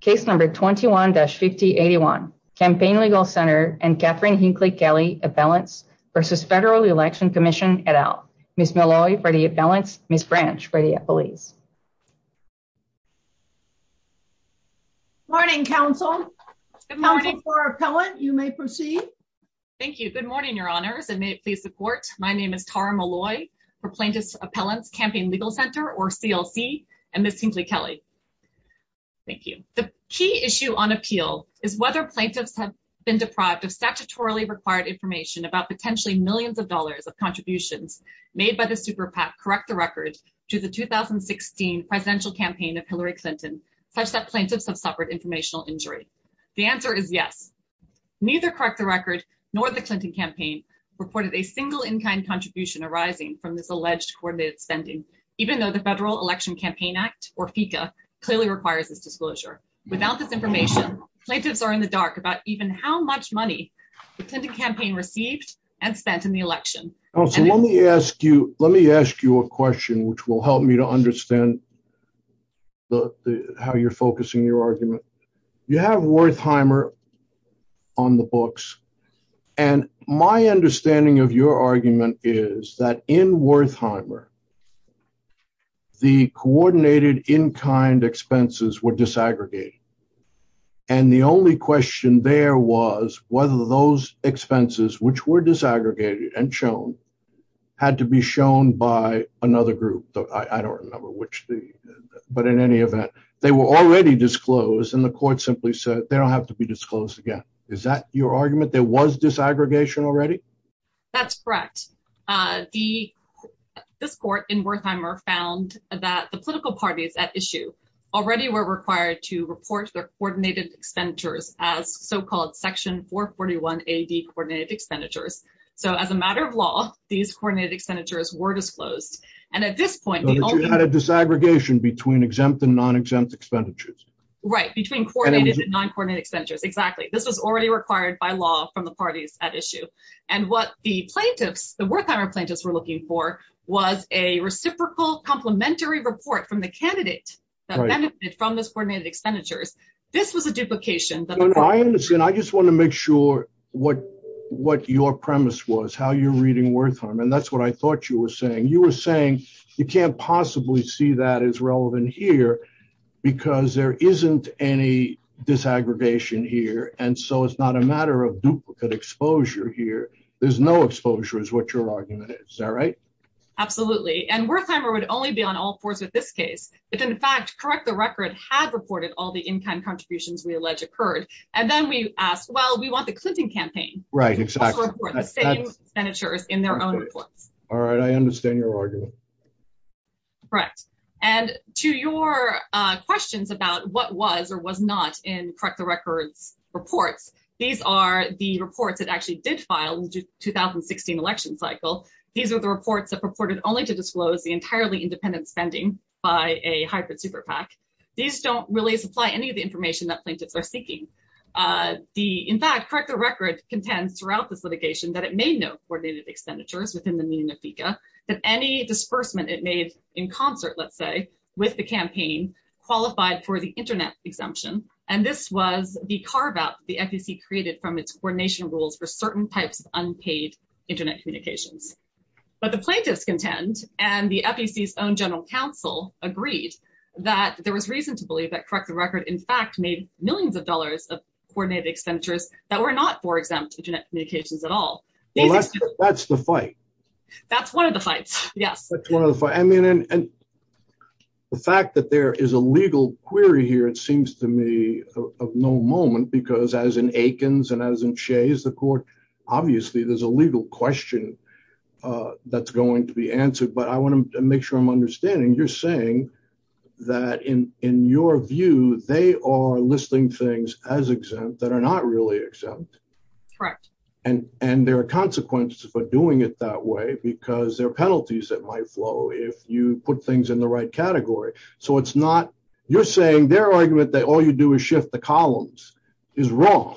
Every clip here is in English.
Case No. 21-5081, Campaign Legal Center and Katherine Hinckley-Kelley Appellants v. Federal Election Commission, et al. Ms. Malloy for the appellants, Ms. Branch for the appellees. Good morning, counsel. Counsel for appellant, you may proceed. Thank you. Good morning, your honors, and may it please the court. My name is Tara Malloy for Plaintiff's Appellants, Campaign Legal Center, or CLC, and Ms. Hinckley-Kelley. Thank you. The key issue on appeal is whether plaintiffs have been deprived of statutorily required information about potentially millions of dollars of contributions made by the SuperPAC Correct the Record to the 2016 presidential campaign of Hillary Clinton, such that plaintiffs have suffered informational injury. The answer is yes. Neither Correct the Record nor the from this alleged coordinated spending, even though the Federal Election Campaign Act, or FECA, clearly requires this disclosure. Without this information, plaintiffs are in the dark about even how much money the Clinton campaign received and spent in the election. Counsel, let me ask you a question, which will help me to understand how you're focusing your argument. You have Wertheimer on the books, and my understanding of your argument is that in Wertheimer, the coordinated in-kind expenses were disaggregated, and the only question there was whether those expenses, which were disaggregated and shown, had to be shown by another group. I don't remember which, but in any event, they were already disclosed, and the court simply said they don't have to be disclosed again. Is that your argument? There was disaggregation already? That's correct. This court in Wertheimer found that the political parties at issue already were required to report their coordinated expenditures as so-called Section 441A-D coordinated expenditures. So as a matter of law, these coordinated expenditures were disclosed, and at this point, the only- So you had a disaggregation between exempt and non-exempt expenditures. Right, between coordinated and non-coordinated expenditures. Exactly. This was already required by law from the parties at issue, and what the plaintiffs, the Wertheimer plaintiffs, were looking for was a reciprocal complementary report from the candidate that benefited from those coordinated expenditures. This was a duplication that- I understand. I just want to make sure what your premise was, how you're reading Wertheimer, and that's what I thought you were saying. You were saying you can't possibly see that it's relevant here because there isn't any disaggregation here, and so it's not a matter of duplicate exposure here. There's no exposure is what your argument is. Is that right? Absolutely, and Wertheimer would only be on all fours with this case, but in fact, correct the record, had reported all the in-kind contributions we allege occurred, and then we asked, well, we want the Clinton campaign- Right, exactly. To report the same expenditures in their own reports. All right. I understand your argument. Correct, and to your questions about what was or was not in correct the records reports, these are the reports that actually did file the 2016 election cycle. These are the reports that purported only to disclose the entirely independent spending by a hybrid super PAC. These don't really supply any of the information that plaintiffs are seeking. In fact, correct the record contends throughout this litigation that it made no coordinated expenditures within the meaning of FICA, that any disbursement it made in concert, let's say, with the campaign qualified for the internet exemption, and this was the carve out the FEC created from its coordination rules for certain types of unpaid internet communications. But the plaintiffs contend, and the FEC's own general counsel agreed that there was reason to believe that correct the record, in fact, made millions of dollars of coordinated expenditures that were not for exempt internet communications at all. That's the fight. That's one of the fights. Yes. That's one of the fights. I mean, and the fact that there is a legal query here, it seems to me of no moment, because as in Aikens and as in Shays, the court, obviously there's a legal question that's going to be answered. But I want to make sure I'm understanding you're saying that in your view, they are listing things as exempt that are not really exempt. Correct. And and there are consequences for doing it that way because there are penalties that might flow if you put things in the right category. So it's not you're saying their argument that all you do is shift the columns is wrong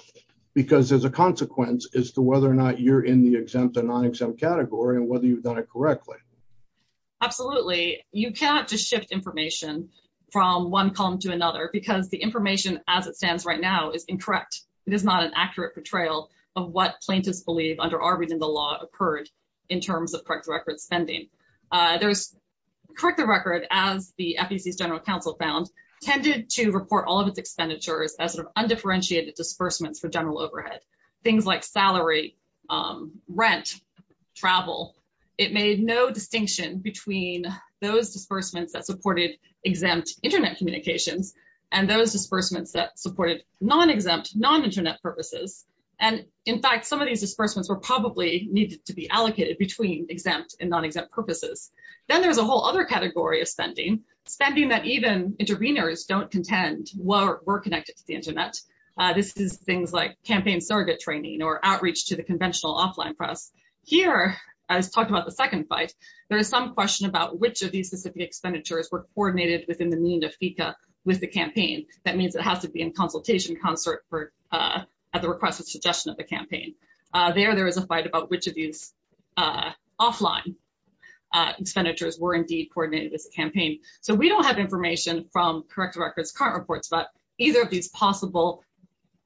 because there's a consequence as to whether or not you're in the exempt or non-exempt category and whether you've done it correctly. Absolutely. You can't just shift information from one column to another because the information as it stands right now is incorrect. It is not an accurate portrayal of what plaintiffs believe under our reading. The law occurred in terms of correct record spending. There was correct the record as the general counsel found tended to report all of its expenditures as undifferentiated disbursements for general overhead, things like salary, rent, travel. It made no distinction between those disbursements that supported exempt Internet communications and those disbursements that supported non-exempt, non-Internet purposes. And in fact, some of these disbursements were probably needed to be allocated between exempt and non-exempt purposes. Then there's a whole other category of spending, spending that even interveners don't contend were connected to the Internet. This is things like campaign surrogate training or outreach to the conventional offline press. Here, as talked about the second fight, there is some question about which of these specific expenditures were coordinated within the mean of FICA with the campaign. That means it has to be in consultation concert for at the request of suggestion of the campaign. There, there is a fight about which of these offline expenditures were indeed coordinated with the campaign. So we don't have information from correct records current reports, but either of these possible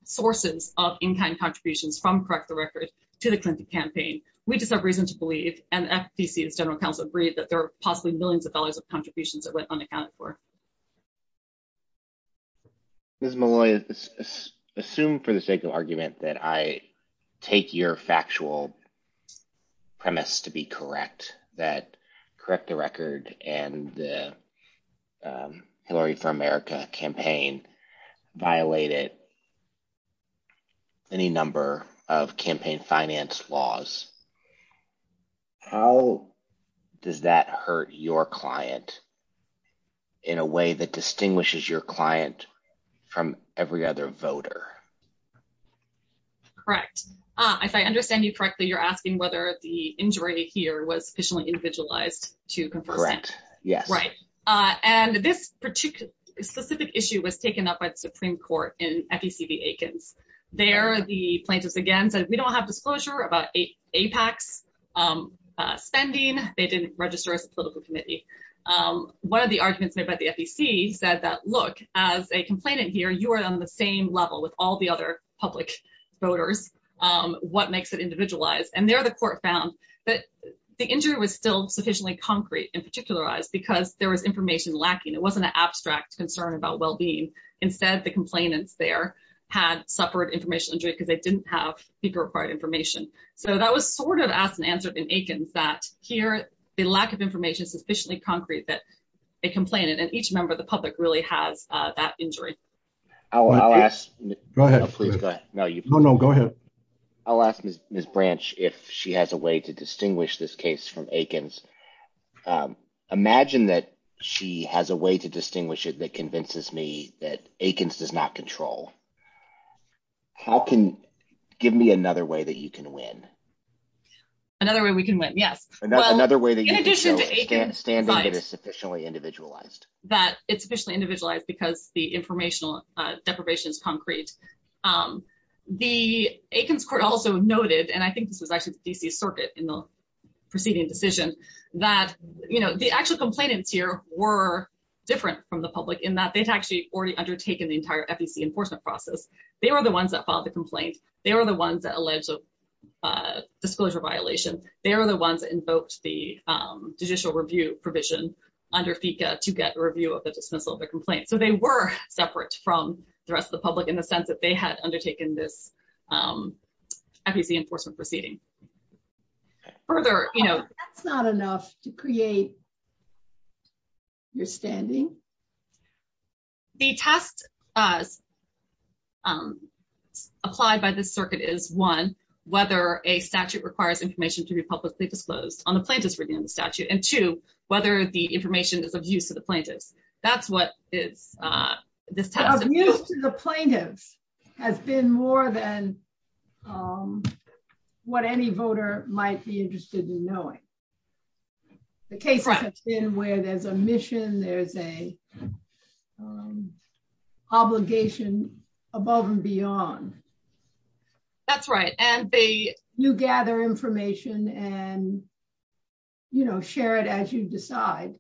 sources of in-kind contributions from correct the record to the Clinton campaign, we just have reason to believe and FTC as general counsel agreed that there are possibly millions of dollars of contributions that went unaccounted for. Ms. Malloy, assume for the sake of argument that I take your factual premise to be correct, that correct the record and the Hillary for America campaign violated any number of campaign finance laws. How does that hurt your client in a way that distinguishes your client from every other voter? Correct. If I understand you correctly, you're asking whether the injury here was officially individualized to correct. Yes. Right. And this particular specific issue was taken up by the Supreme Court in FECB Aikens. There, the plaintiffs again said we don't have disclosure about APAC's spending. They didn't register as a political committee. One of the arguments made by the FEC said that, look, as a complainant here, you are on the same level with all the other public voters. What makes it individualized? And there, the court found that the injury was still sufficiently concrete and particularized because there was information lacking. It wasn't an abstract concern about well-being. Instead, the complainants there had suffered information because they didn't have the required information. So that was sort of asked and answered in Aikens that here, the lack of information is sufficiently concrete that they complained. And each member of the public really has that injury. I'll ask. Go ahead. No, no, go ahead. I'll ask Ms. Branch if she has a way to distinguish this case from Aikens. Imagine that she has a way to distinguish it that convinces me that Aikens does not control. How can – give me another way that you can win. Another way we can win, yes. Well, in addition to Aikens, right, that it's sufficiently individualized because the informational deprivation is concrete. The Aikens court also noted – and I think this was actually the D.C. Circuit in the preceding decision – that the actual complainants here were different from the public in that they'd actually already undertaken the entire FEC enforcement process. They were the ones that filed the complaint. They were the ones that alleged a disclosure violation. They were the ones that invoked the judicial review provision under FECA to get a review of the dismissal of the complaint. So they were separate from the rest of the public in the sense that they had undertaken this enforcement proceeding. That's not enough to create your standing. The test applied by this circuit is, one, whether a statute requires information to be publicly disclosed on the plaintiff's review of the statute, and two, whether the information is of use to the plaintiffs. That's what this test – Of use to the plaintiffs has been more than what any voter might be interested in knowing. The cases have been where there's a mission, there's an obligation above and beyond. That's right. And you gather information and share it as you decide.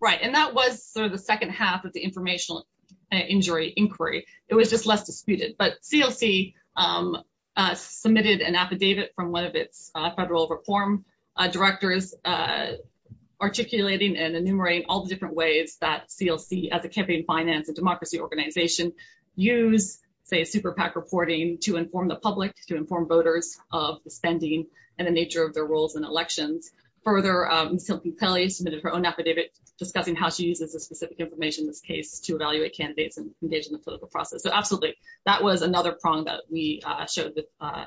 Right. And that was sort of the second half of the informational injury inquiry. It was just less disputed. But CLC submitted an affidavit from one of its federal reform directors articulating and enumerating all the different ways that CLC, as a campaign finance and democracy organization, use, say, a super PAC reporting to inform the public, to inform voters of the spending and the nature of their roles in elections. Further, Cynthia Kelly submitted her own affidavit discussing how she uses the specific information in this case to evaluate candidates and engage in the political process. So absolutely, that was another prong that we showed the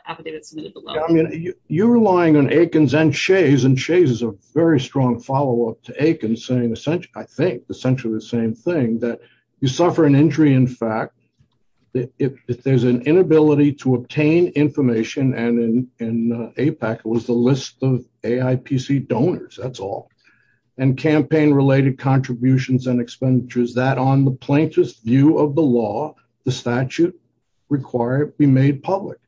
affidavit submitted below. I mean, you're relying on Aikens and Shays, and Shays is a very strong follow-up to Aikens, saying essentially, I think, essentially the same thing, that you suffer an injury in fact, if there's an inability to obtain information, and in AIPAC, it was the list of AIPC donors, that's all, and campaign-related contributions and expenditures, that on the plaintiff's view of the law, the statute require it be made public.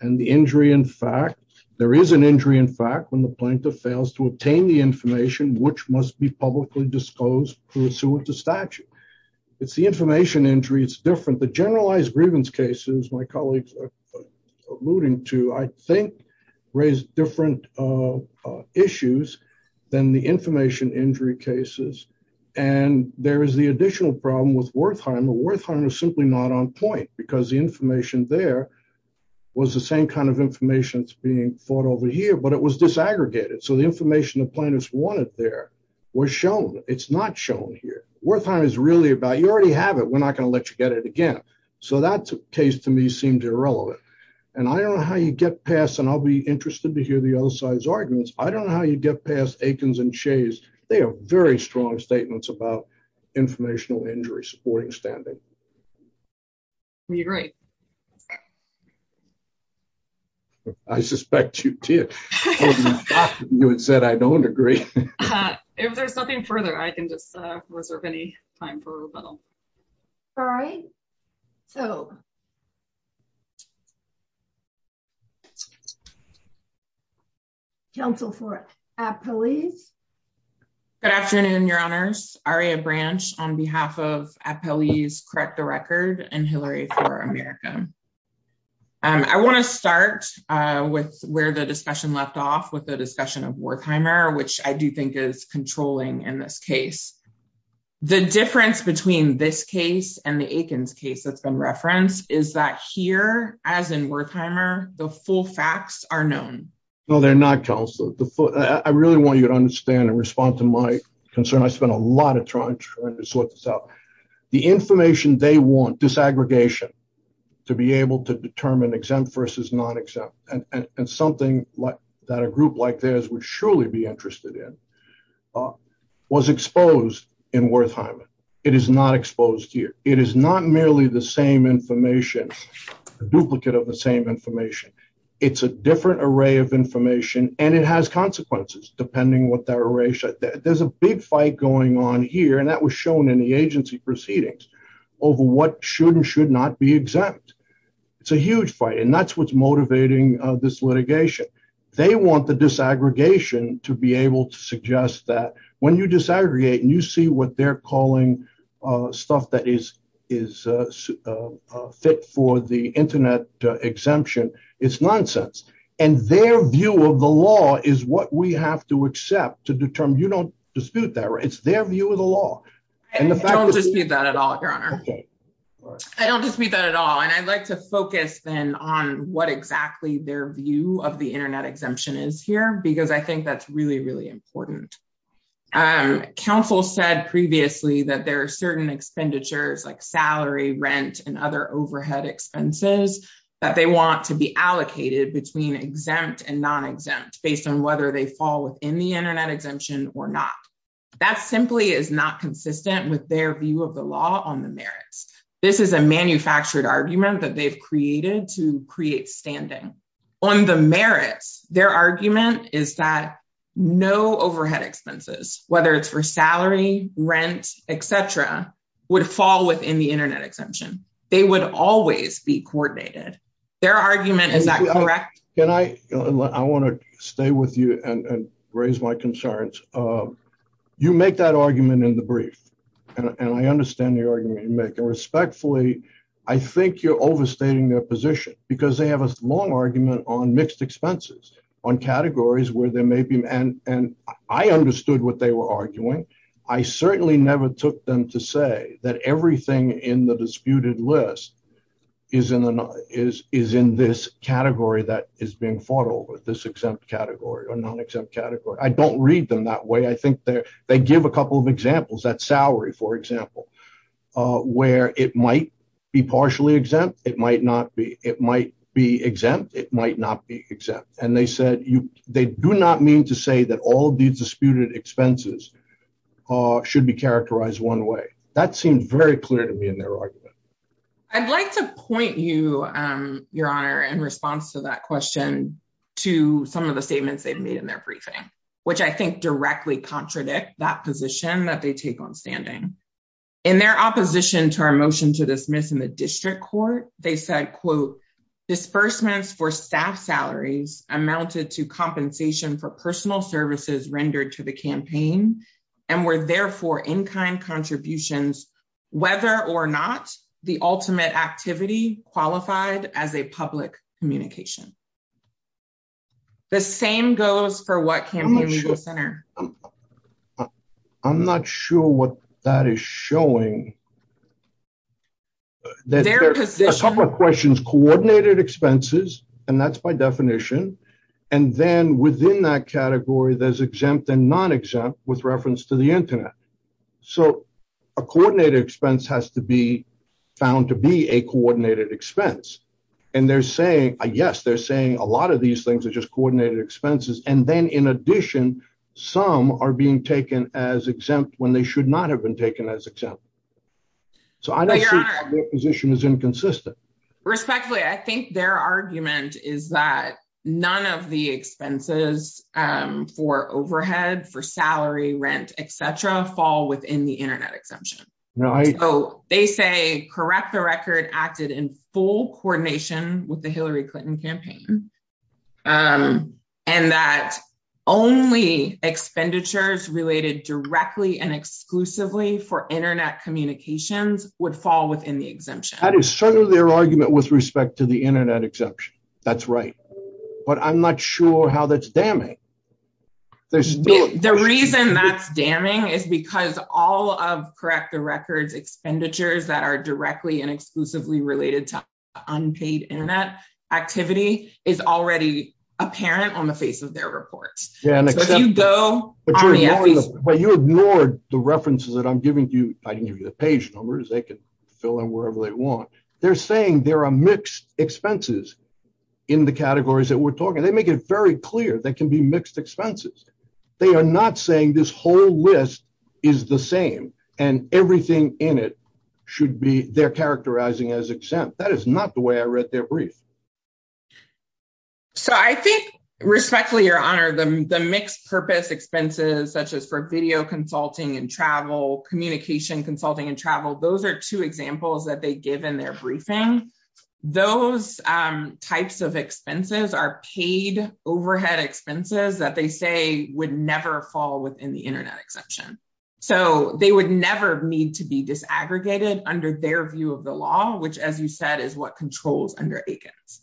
And the injury in fact, there is an injury in fact, when the plaintiff fails to obtain the information, which must be publicly disclosed pursuant to statute. It's the information injury, it's different. The generalized grievance cases, my colleagues are alluding to, I think, raise different issues than the information injury cases. And there is the additional problem with Wertheimer. Wertheimer is simply not on point, because the information there was the same kind of information that's being fought over here, but it was disaggregated. So the information the plaintiffs wanted there was shown, it's not shown here. Wertheimer is really about, you already have it, we're not going to let you get it again. So that case, to me, seemed irrelevant. And I don't know how you get past, and I'll be interested to hear the other side's arguments, I don't know how you get past Aikens and Shays, they have very strong statements about informational injury supporting standing. We agree. I suspect you did. You had said, I don't agree. If there's nothing further, I can just reserve any time for rebuttal. Sorry. So. Counsel for Appellees. Good afternoon, Your Honors. Aria Branch on behalf of Appellees Correct the Record and Hillary for America. I want to start with where the discussion left off with the discussion of Wertheimer, which I do think is controlling in this case. The difference between this case and the Aikens case that's been referenced is that here, as in Wertheimer, the full facts are known. No, they're not, Counsel. I really want you to understand and respond to my concern. I spent a lot of time trying to sort this out. The information they want, disaggregation, to be interested in, was exposed in Wertheimer. It is not exposed here. It is not merely the same information, a duplicate of the same information. It's a different array of information, and it has consequences, depending what that array shows. There's a big fight going on here, and that was shown in the agency proceedings, over what should and should not be exempt. It's a huge fight, and that's what's motivating this litigation. They want the disaggregation to be able to suggest that when you disaggregate and you see what they're calling stuff that is fit for the internet exemption, it's nonsense. Their view of the law is what we have to accept to determine. You don't dispute that. It's their view of the law. I don't dispute that at all, Your Honor. I don't dispute that at all, and I'd like to focus then on what exactly their view of the internet exemption is here, because I think that's really, really important. Counsel said previously that there are certain expenditures like salary, rent, and other overhead expenses that they want to be allocated between exempt and non-exempt, based on whether they fall within the internet exemption or not. That simply is not consistent with their view of the law on merits. This is a manufactured argument that they've created to create standing. On the merits, their argument is that no overhead expenses, whether it's for salary, rent, et cetera, would fall within the internet exemption. They would always be coordinated. Their argument is that correct? I want to stay with you and raise my concerns. You make that argument in the brief, and I understand the argument you make. Respectfully, I think you're overstating their position, because they have a long argument on mixed expenses, on categories where there may be, and I understood what they were arguing. I certainly never took them to say that everything in the disputed list is in this category that is being fought over, this exempt category or non-exempt category. I don't read them that way. I think they give a couple of examples, that salary, for example, where it might be partially exempt, it might not be. It might be exempt, it might not be exempt. They said they do not mean to say that all of these disputed expenses should be characterized one way. That seems very clear to me in their argument. I'd like to point you, Your Honor, in response to that question to some of the statements they've made in their briefing, which I think directly contradict that position that they take on standing. In their opposition to our motion to dismiss in the district court, they said, disbursements for staff salaries amounted to compensation for personal services rendered to the campaign, and were therefore in-kind contributions, whether or not the ultimate activity qualified as a public communication. The same goes for what campaign legal center. I'm not sure what that is showing. A couple of questions. Coordinated expenses, and that's by definition, and then within that category, there's exempt and non-exempt with reference to the internet. So, a coordinated expense has to be found to be a coordinated expense. And they're saying, yes, they're saying a lot of these things are just coordinated expenses. And then in addition, some are being taken as exempt when they should not have been taken as exempt. So, I don't think their position is inconsistent. Respectfully, I think their argument is that none of the expenses for overhead, for salary, rent, et cetera, fall within the internet exemption. So, they say, correct the record, acted in full coordination with the Hillary Clinton campaign, and that only expenditures related directly and exclusively for internet communications would fall within the exemption. That is certainly their argument with respect to internet exemption. That's right. But I'm not sure how that's damning. The reason that's damning is because all of, correct the records, expenditures that are directly and exclusively related to unpaid internet activity is already apparent on the face of their reports. So, if you go- But you ignored the references that I'm giving you. I didn't give you the page numbers. They can fill in wherever they want. They're saying they're a expenses in the categories that we're talking. They make it very clear that can be mixed expenses. They are not saying this whole list is the same and everything in it should be, they're characterizing as exempt. That is not the way I read their brief. So, I think, respectfully, Your Honor, the mixed-purpose expenses such as for video consulting and travel, communication consulting and travel, those are two examples that they give in their briefing. Those types of expenses are paid overhead expenses that they say would never fall within the internet exemption. So, they would never need to be disaggregated under their view of the law, which, as you said, is what controls under ACOTS.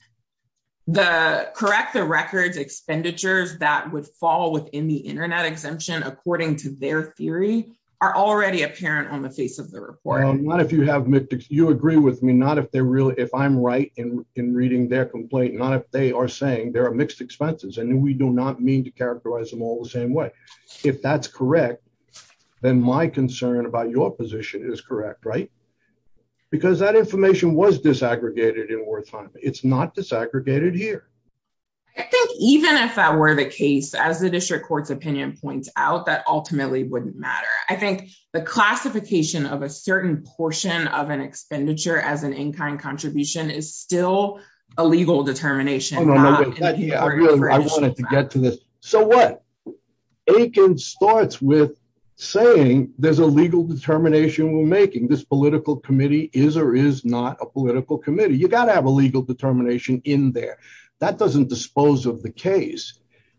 The correct the records expenditures that would fall within the internet exemption, according to their theory, are already apparent on the face of the report. Not if you have mixed, you agree with me, not if they're really, if I'm right in reading their complaint, not if they are saying there are mixed expenses and we do not mean to characterize them all the same way. If that's correct, then my concern about your position is correct, right? Because that information was disaggregated in Wertheim. It's not disaggregated here. I think even if that were the case, as the district court's opinion points out, that ultimately wouldn't matter. I think the classification of a certain portion of an expenditure as an in-kind contribution is still a legal determination. I wanted to get to this. So, what? Aiken starts with saying there's a legal determination we're making. This political committee is or is not a political committee. You got to have a legal determination in there. That doesn't dispose of the case.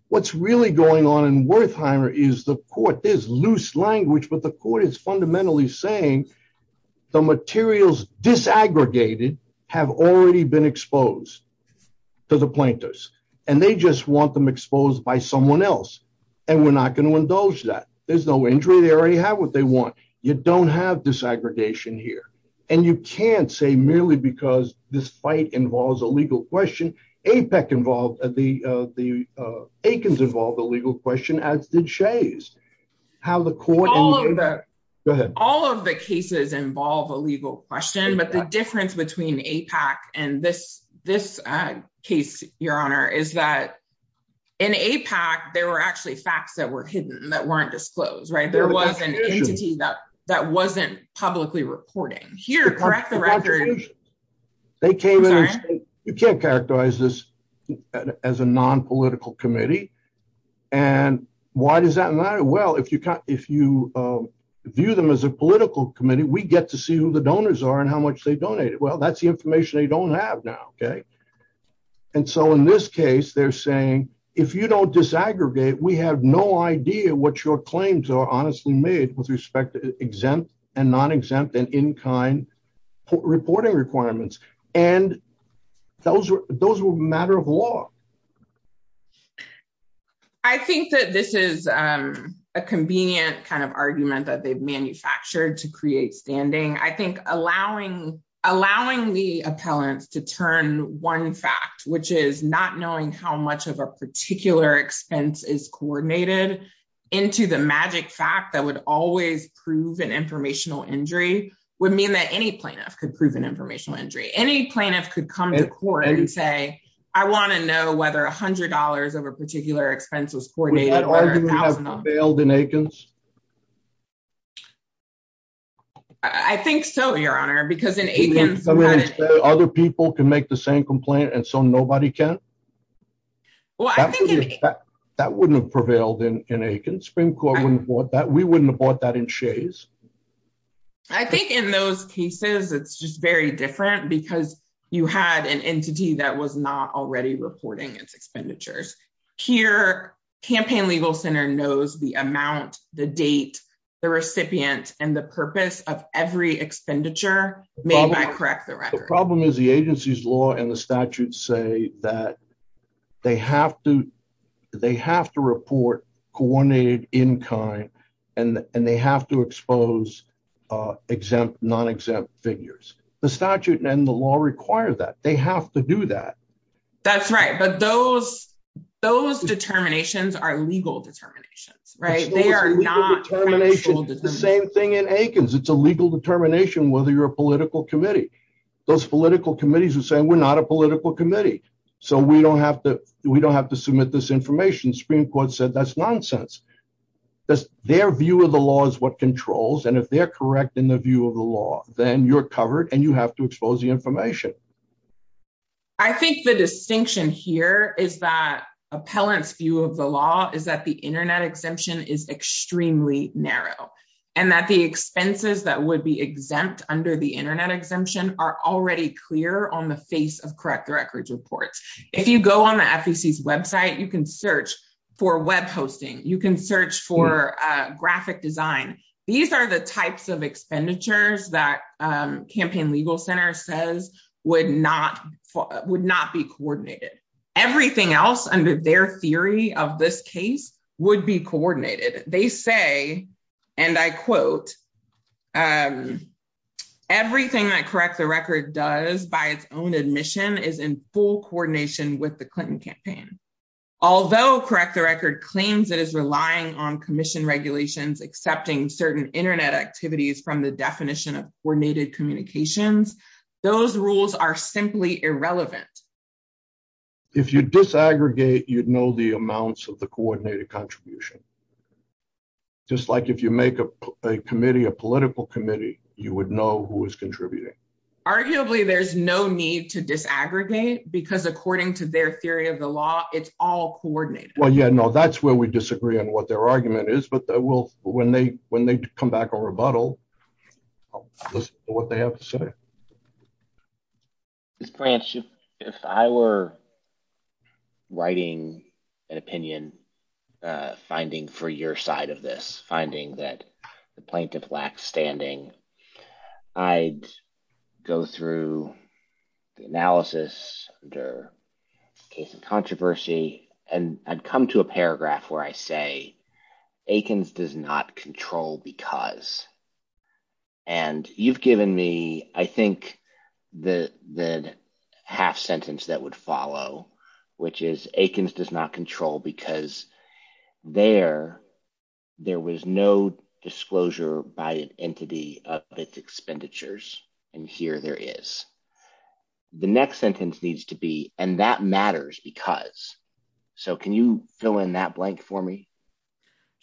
What's really going on in Wertheimer is the court, there's loose language, but the court is fundamentally saying the materials disaggregated have already been exposed to the plaintiffs. And they just want them exposed by someone else. And we're not going to indulge that. There's no injury. They already have what they want. You don't have disaggregation here. And you can't say merely because this fight involves a legal question, APEC involved, Aiken's involved a legal question, as did Shea's. All of the cases involve a legal question, but the difference between APEC and this case, Your Honor, is that in APEC, there were actually facts that were hidden that weren't disclosed, right? There was an entity that wasn't publicly reporting. Here, correct the record. They came in. You can't characterize this as a nonpolitical committee. And why does that matter? Well, if you view them as a political committee, we get to see who the donors are and how much they donated. Well, that's the information they don't have now, okay? And so in this case, they're saying, if you don't disaggregate, we have no idea what your claims are honestly made with respect to exempt and non-exempt and in-kind reporting requirements. And those were a matter of law. I think that this is a convenient kind of argument that they've manufactured to create standing. I think allowing the appellants to turn one fact, which is not an informational injury, would mean that any plaintiff could prove an informational injury. Any plaintiff could come to court and say, I want to know whether $100 of a particular expense was coordinated. Would that argument have prevailed in Aikens? I think so, Your Honor, because in Aikens- Other people can make the same complaint, and so nobody can? That wouldn't have prevailed in Aikens. Supreme Court wouldn't have bought that in shays. I think in those cases, it's just very different because you had an entity that was not already reporting its expenditures. Here, Campaign Legal Center knows the amount, the date, the recipient, and the purpose of every expenditure made by Correct the Record. The problem is the agency's law and the statutes say that they have to report coordinated in-kind and they have to expose exempt, non-exempt figures. The statute and the law require that. They have to do that. That's right, but those determinations are legal determinations, right? They are not- Legal determination is the same thing in Aikens. It's a legal determination whether you're a political committee. Those political committees are saying, we're not a political committee, so we don't have to submit this information. Supreme Court said that's nonsense. Just their view of the law is what controls, and if they're correct in the view of the law, then you're covered and you have to expose the information. I think the distinction here is that appellant's view of the law is that the internet exemption is extremely narrow and that the expenses that would be exempt under the internet exemption are already clear on the face of Correct the Records reports. If you go on the FEC's website, you can search for web hosting. You can search for graphic design. These are the types of expenditures that Campaign Legal Center says would not be coordinated. Everything else under their theory of this case would be coordinated. They say, and I quote, everything that Correct the Record does by its own admission is in full coordination with the Clinton campaign. Although Correct the Record claims it is relying on commission regulations accepting certain internet activities from the definition of coordinated communications, those rules are simply irrelevant. If you disaggregate, you'd know the amounts of the coordinated contribution. Just like if you make a committee, a political committee, you would know who is contributing. Arguably, there's no need to disaggregate because according to their theory of the law, it's all coordinated. Well, yeah, no, that's where we disagree on what their argument is, but when they come back on rebuttal, I'll listen to what they have to say. Ms. Branch, if I were writing an opinion finding for your side of this, finding that plaintiff lacks standing, I'd go through the analysis under case of controversy, and I'd come to a paragraph where I say, Akins does not control because, and you've given me, I think, the half sentence that would follow, which is Akins does not control because there was no disclosure by an entity of its expenditures, and here there is. The next sentence needs to be, and that matters because, so can you fill in that blank for me?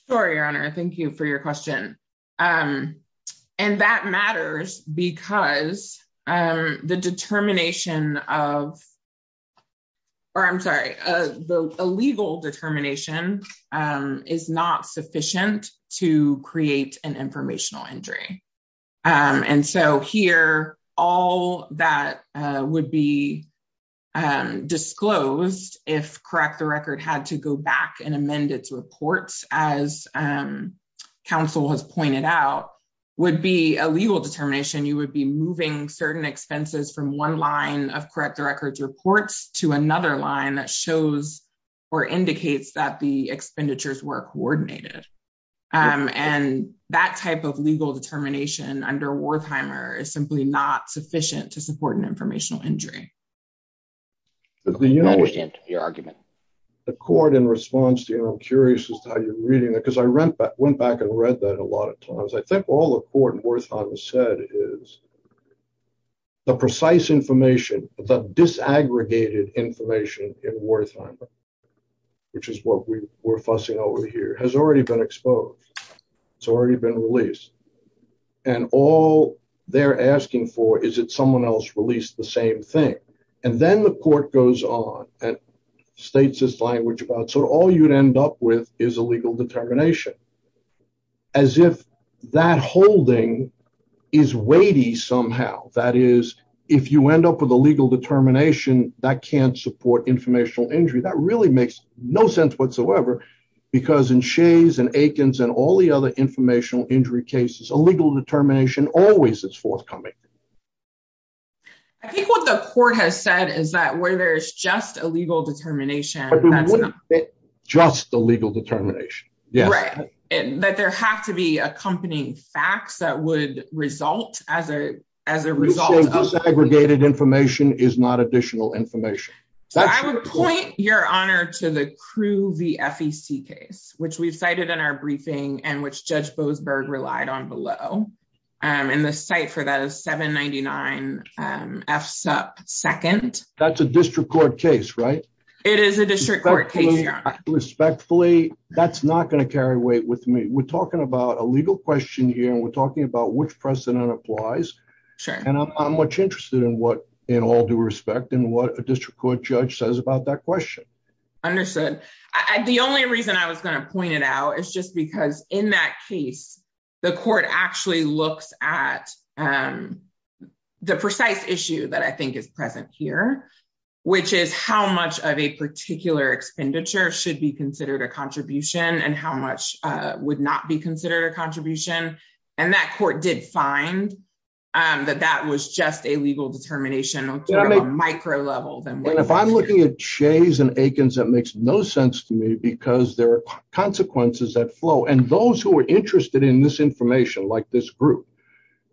Sure, Your Honor. Thank you for your question. And that matters because the determination of, or I'm sorry, the illegal determination is not sufficient to create an informational injury. And so here, all that would be disclosed if Correct the Record had to go back and amend its reports, as counsel has pointed out, would be a legal determination. You would be moving certain reports to another line that shows or indicates that the expenditures were coordinated. And that type of legal determination under Wertheimer is simply not sufficient to support an informational injury. I understand your argument. The court in response to, and I'm curious as to how you're reading it, because I went back and read that a lot of times. I think all the court in Wertheimer said is the precise information, disaggregated information in Wertheimer, which is what we're fussing over here, has already been exposed. It's already been released. And all they're asking for is that someone else released the same thing. And then the court goes on and states this language about, so all you'd end up with is a legal determination, as if that holding is weighty somehow. That is, if you end up with a legal determination, that can't support informational injury. That really makes no sense whatsoever. Because in Shays and Aikens and all the other informational injury cases, a legal determination always is forthcoming. I think what the court has said is that where there's just a legal determination. Just a legal determination. That there have to be accompanying facts that would result as a result. Disaggregated information is not additional information. So I would point, Your Honor, to the Crew v. FEC case, which we've cited in our briefing, and which Judge Boasberg relied on below. And the site for that is 799 F Sup 2nd. That's a district court case, right? It is a district court case, Your Honor. Respectfully, that's not going to carry weight with me. We're talking about a legal question and we're talking about which precedent applies. And I'm much interested in what, in all due respect, in what a district court judge says about that question. Understood. The only reason I was going to point it out is just because in that case, the court actually looks at the precise issue that I think is present here, which is how much of a particular expenditure should be considered a contribution and how much would not be considered a contribution. And that court did find that that was just a legal determination on a micro level. But if I'm looking at Shays and Akins, that makes no sense to me because there are consequences that flow. And those who are interested in this information, like this group,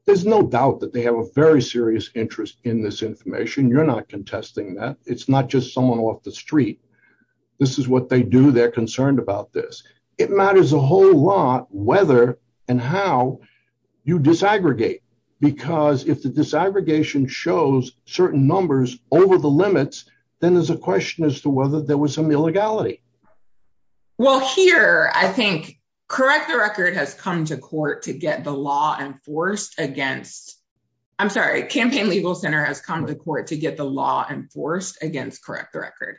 there's no doubt that they have a very serious interest in this information. You're not contesting that. It's not just someone off the street. This is what they do. They're concerned about this. It matters a whole lot whether and how you disaggregate. Because if the disaggregation shows certain numbers over the limits, then there's a question as to whether there was some illegality. Well, here, I think Correct the Record has come to court to get the law enforced against, I'm sorry, Campaign Legal Center has come to court to get the law enforced against Correct the Record.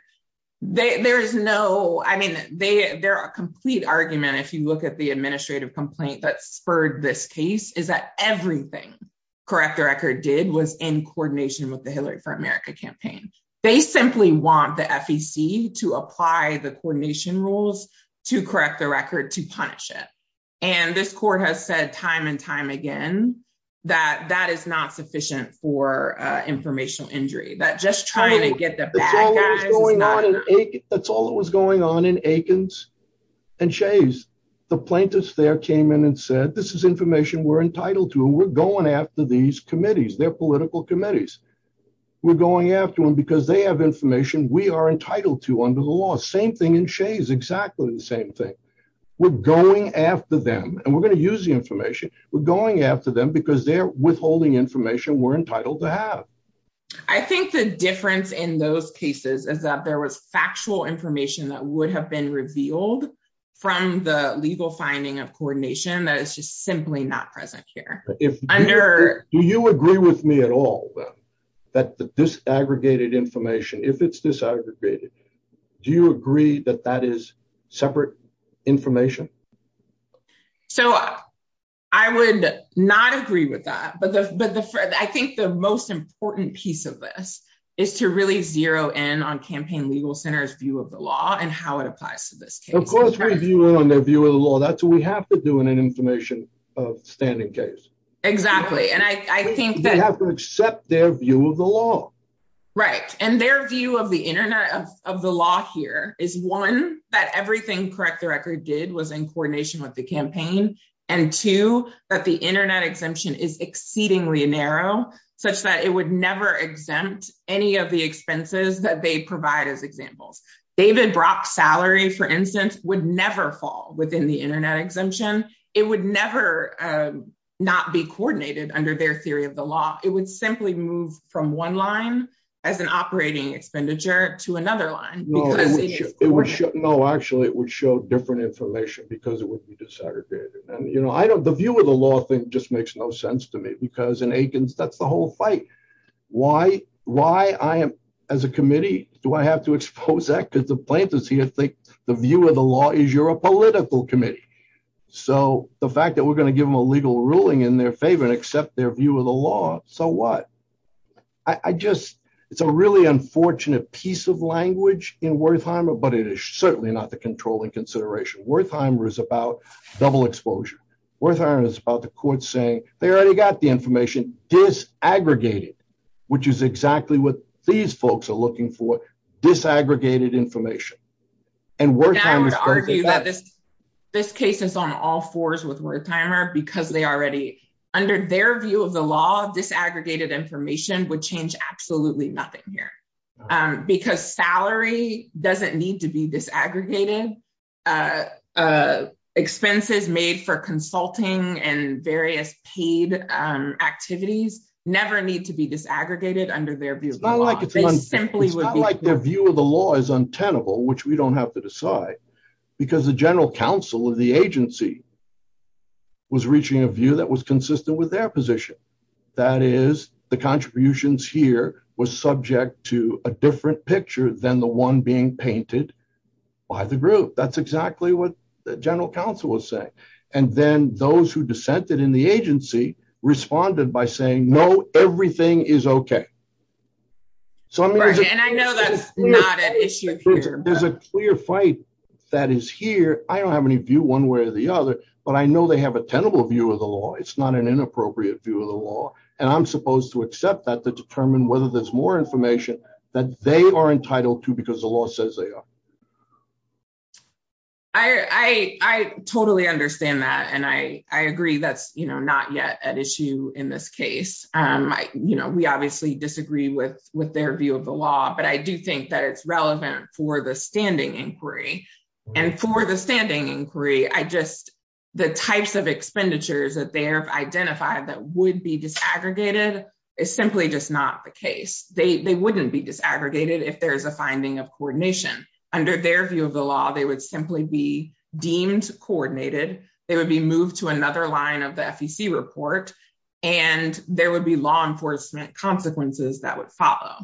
There is no, I mean, they're a complete argument if you look at the administrative complaint that spurred this case, is that everything Correct the Record did was in coordination with the Hillary for America campaign. They simply want the FEC to apply the coordination rules to Correct the Record to punish it. And this court has said time and time again that that is not sufficient for informational injury, that just trying to get the bad guys is not enough. That's all that was going on in Akins and Shays. The plaintiffs there came in and said, this is information we're entitled to. We're going after these committees. They're political committees. We're going after them because they have information we are entitled to under the law. Same thing in Shays. Exactly the same thing. We're going after them. And we're going to use the information. We're going after them because they're withholding information we're entitled to have. I think the difference in those cases is that there was factual information that would have been revealed from the legal finding of coordination that is just simply not present here. Do you agree with me at all that this aggregated information, if it's disaggregated, do you agree that that is separate information? So, I would not agree with that, but I think the most important piece of this is to really zero in on Campaign Legal Center's view of the law and how it applies to this case. Of course we view it on their view of the law. That's what we have to do in an information standing case. Exactly. And I think that- We have to accept their view of the law. Right. And their view of the internet, of the law here is one that everything Correct the Record did was in coordination with the campaign. And two, that the internet exemption is exceedingly narrow such that it would never exempt any of the expenses that they provide as examples. David Brock's salary, for instance, would never fall within the internet exemption. It would never not be coordinated under their theory of the law. It would simply move from one line as an operating expenditure to another line because it is coordinated. No, actually it would show different information because it would be disaggregated. And I don't- The view of the law thing just makes no sense to me because in Aikens, that's the whole fight. Why I am, as a committee, do I have to expose that? Because the plaintiffs here think the view of the law is you're a political committee. So, the fact that we're going to give them a legal ruling in their favor and accept their view of the law, so what? It's a really unfortunate piece of language in Wertheimer, but it is certainly not the controlling consideration. Wertheimer is about double exposure. Wertheimer is about the court saying they already got the information disaggregated, which is exactly what these folks are looking for, disaggregated information. And Wertheimer- I would argue that this case is on all fours with Wertheimer because they already, under their view of the law, disaggregated information would change absolutely nothing here. Because salary doesn't need to be disaggregated. Expenses made for consulting and various paid activities never need to be disaggregated under their view of the law. It's not like their view of the law is untenable, which we don't have to decide, because the general counsel of the agency was reaching a view that was consistent with their that is the contributions here was subject to a different picture than the one being painted by the group. That's exactly what the general counsel was saying. And then those who dissented in the agency responded by saying no, everything is okay. So, I mean- And I know that's not an issue here. There's a clear fight that is here. I don't have any view one way or the other, but I know they have a tenable view of the law. It's not an inappropriate view of the law. And I'm supposed to accept that to determine whether there's more information that they are entitled to because the law says they are. I totally understand that. And I agree that's not yet an issue in this case. We obviously disagree with their view of the law, but I do think that it's relevant for the standing inquiry. And for the standing inquiry, the types of expenditures that they have identified that would be disaggregated is simply just not the case. They wouldn't be disaggregated if there's a finding of coordination. Under their view of the law, they would simply be deemed coordinated. They would be moved to another line of the FEC report, and there would be law enforcement consequences that would follow.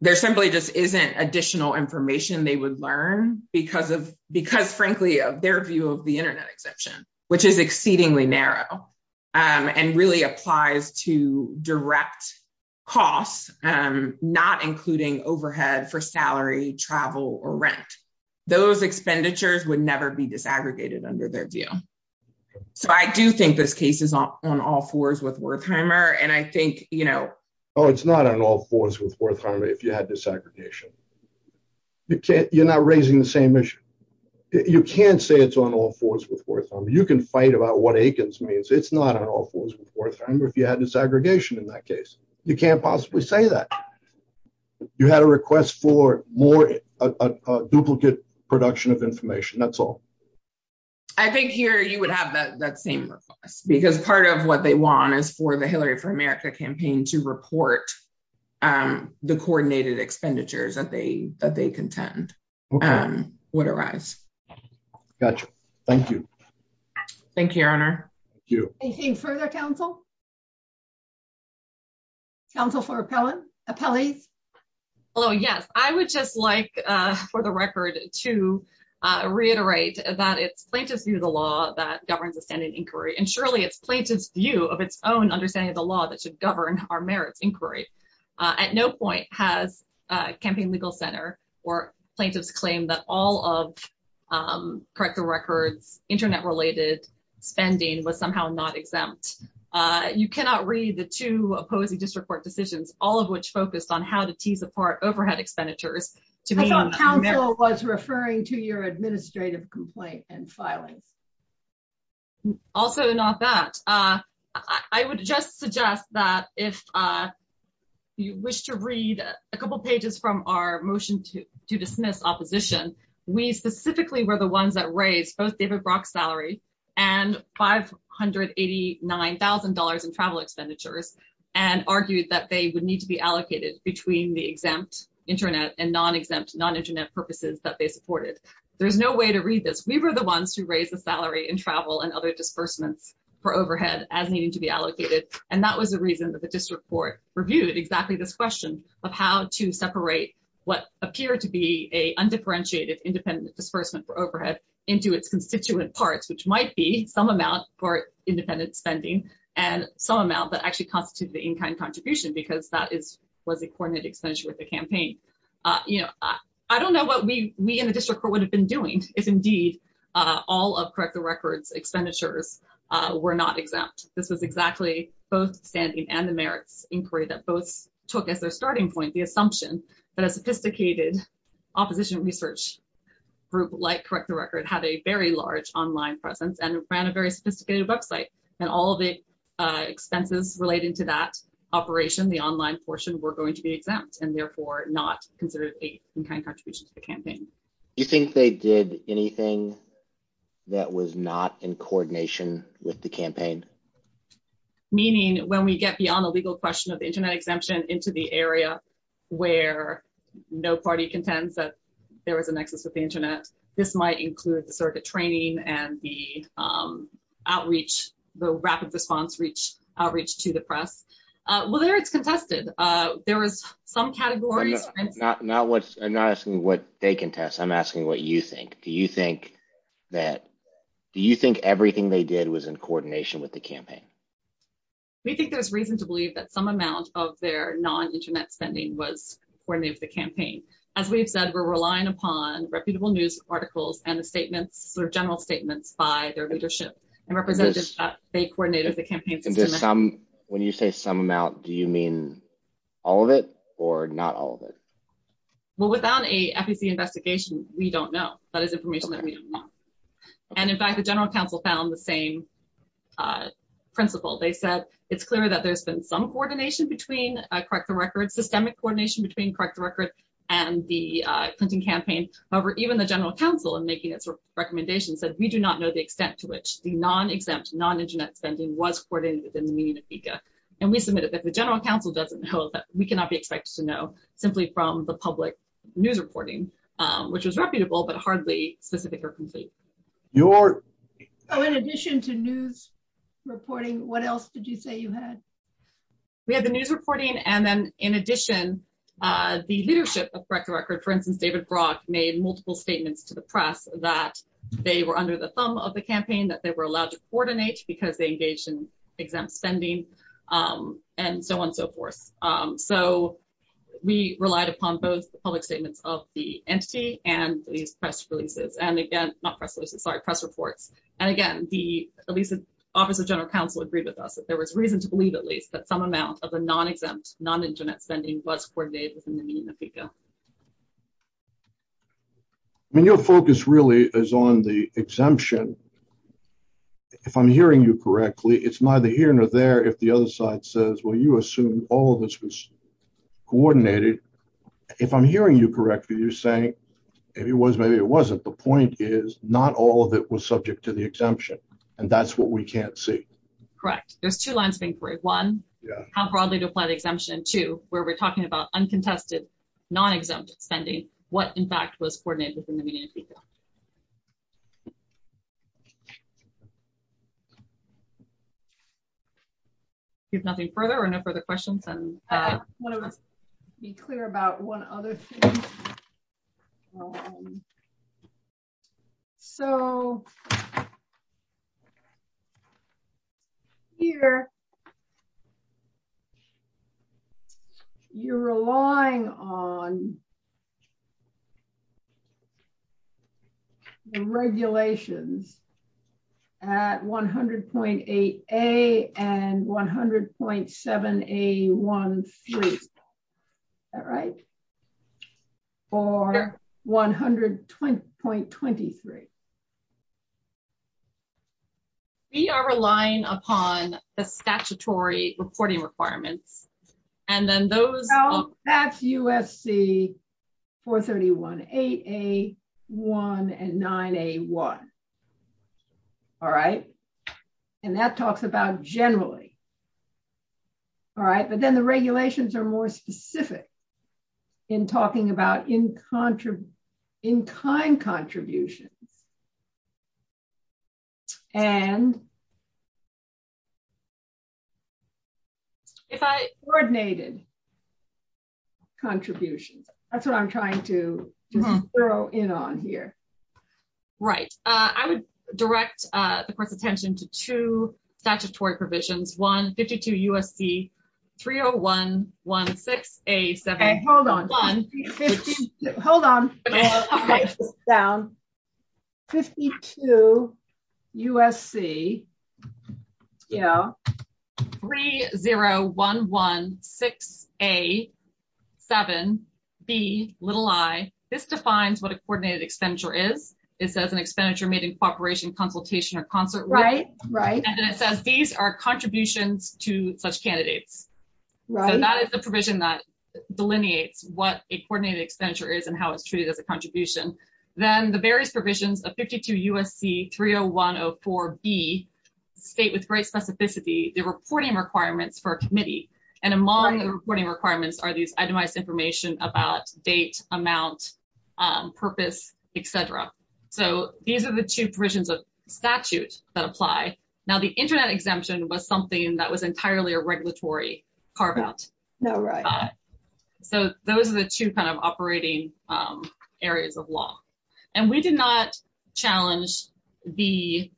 There simply just isn't additional information they would learn because, frankly, of their view of the internet exemption, which is exceedingly narrow and really applies to direct costs, not including overhead for salary, travel, or rent. Those expenditures would never be disaggregated under their view. So I do think this case is on all fours with Wertheimer. And I think- Oh, it's not on all fours with Wertheimer if you had disaggregation. You can't- You're not raising the same issue. You can't say it's on all fours with Wertheimer. You can fight about what Aikens means. It's not on all fours with Wertheimer if you had disaggregation in that case. You can't possibly say that. You had a request for more- a duplicate production of information. That's all. I think here you would have that same request because part of what they want is for the Hillary for America campaign to report the coordinated expenditures that they contend would arise. Gotcha. Thank you. Thank you, Your Honor. Thank you. Anything further, counsel? Counsel for appellees? Oh, yes. I would just like, for the record, to reiterate that it's plaintiff's view of the law that governs the standing inquiry. And surely it's plaintiff's view of its own understanding of the law that should govern our merits inquiry. At no point has a campaign legal center or plaintiffs claim that all of corrector records, internet related spending was somehow not exempt. You cannot read the two opposing district court decisions, all of which focused on how to tease apart overhead expenditures to- I thought counsel was referring to your complaint and filings. Also not that. I would just suggest that if you wish to read a couple pages from our motion to dismiss opposition, we specifically were the ones that raised both David Brock's salary and $589,000 in travel expenditures and argued that they would need to be allocated between the exempt internet and non-exempt, non-internet purposes that they supported. There's no way to read this. We were the ones who raised the salary and travel and other disbursements for overhead as needing to be allocated. And that was the reason that the district court reviewed exactly this question of how to separate what appeared to be a undifferentiated independent disbursement for overhead into its constituent parts, which might be some amount for independent spending and some amount that actually constitutes the in-kind contribution because that was a coordinate expenditure with the campaign. I don't know what we in the district court would have been doing if indeed all of Correct the Record's expenditures were not exempt. This was exactly both standing and the merits inquiry that both took as their starting point the assumption that a sophisticated opposition research group like Correct the Record had a very large online presence and ran a very sophisticated website. And all of the expenses related to that operation, the online portion, were going to be exempt and not considered an in-kind contribution to the campaign. Do you think they did anything that was not in coordination with the campaign? Meaning when we get beyond the legal question of the internet exemption into the area where no party contends that there was a nexus with the internet, this might include the circuit training and the outreach, the rapid response outreach to the press. Well, there it's contested. There was some categories. I'm not asking what they contest. I'm asking what you think. Do you think that, do you think everything they did was in coordination with the campaign? We think there's reason to believe that some amount of their non-internet spending was coordinated with the campaign. As we've said, we're relying upon reputable news articles and the statements or general statements by their leadership and representative that they coordinated the campaign. When you say some amount, do you mean all of it or not all of it? Well, without a FEC investigation, we don't know. That is information that we don't know. And in fact, the general counsel found the same principle. They said, it's clear that there's been some coordination between Correct the Record, systemic coordination between Correct the Record and the Clinton campaign. However, even the general counsel in making its recommendations said we do not know the extent to which the non-exempt non-internet spending was coordinated within the meaning of FECA. And we submitted that the general counsel doesn't know that we cannot be expected to know simply from the public news reporting, which was reputable, but hardly specific or complete. In addition to news reporting, what else did you say you had? We had the news reporting. And then in addition, the leadership of Correct the Record, for instance, David Brock, made multiple statements to the press that they were under the thumb of the campaign, that they were allowed to coordinate because they engaged in exempt spending, and so on, so forth. So we relied upon both the public statements of the entity and these press releases. And again, not press releases, sorry, press reports. And again, the Office of General Counsel agreed with us that there was reason to believe at least that some amount of the non-exempt non-internet spending was coordinated within the meaning of FECA. I mean, your focus really is on the exemption. If I'm hearing you correctly, it's neither here nor there if the other side says, well, you assume all of this was coordinated. If I'm hearing you correctly, you're saying, if it was, maybe it wasn't. The point is, not all of it was subject to the exemption. And that's what we can't see. Correct. There's two lines of inquiry. One, how broadly to apply the exemption. Two, where we're talking about uncontested, non-exempt spending, what in fact was coordinated within the meaning of FECA. If nothing further or no further questions. I want to be clear about one other thing. So, here, you're relying on the regulations at 100.8A and 100.7A13. Is that right? Or 100.23. We are relying upon the statutory reporting requirements. And that's USC 431.8A1 and 9A1. All right. And that talks about generally. All right. But then the regulations are more specific in talking about in-kind contributions. And coordinated contributions. That's what I'm trying to throw in on here. Right. I would direct the court's attention to two statutory provisions. One, 52 USC 301.16A7. Hold on. Hold on. 52 USC 301.16A7Bi. This defines what a coordinated expenditure is. It says an expenditure made in cooperation, consultation, or concert. Right. Right. And then it says these are contributions to such candidates. So, that is the provision that delineates what a coordinated expenditure is and how it's treated as a contribution. Then the various provisions of 52 USC 301.04B state with great specificity the reporting requirements for a committee. And among the reporting requirements are these itemized information about date, amount, purpose, et cetera. So, these are the two provisions of carve out. So, those are the two kind of operating areas of law. And we did not challenge the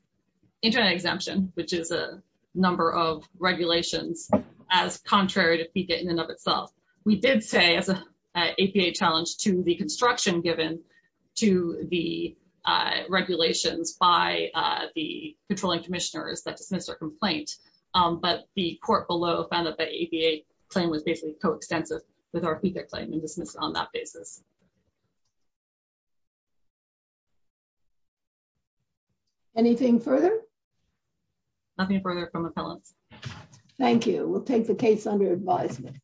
internet exemption, which is a number of regulations, as contrary to FECA in and of itself. We did say as an APA challenge to the construction given to the regulations by the controlling commissioners that dismissed our complaint. But the court below found that the APA claim was basically coextensive with our FECA claim and dismissed on that basis. Anything further? Nothing further from appellants. Thank you. We'll take the case under advisement.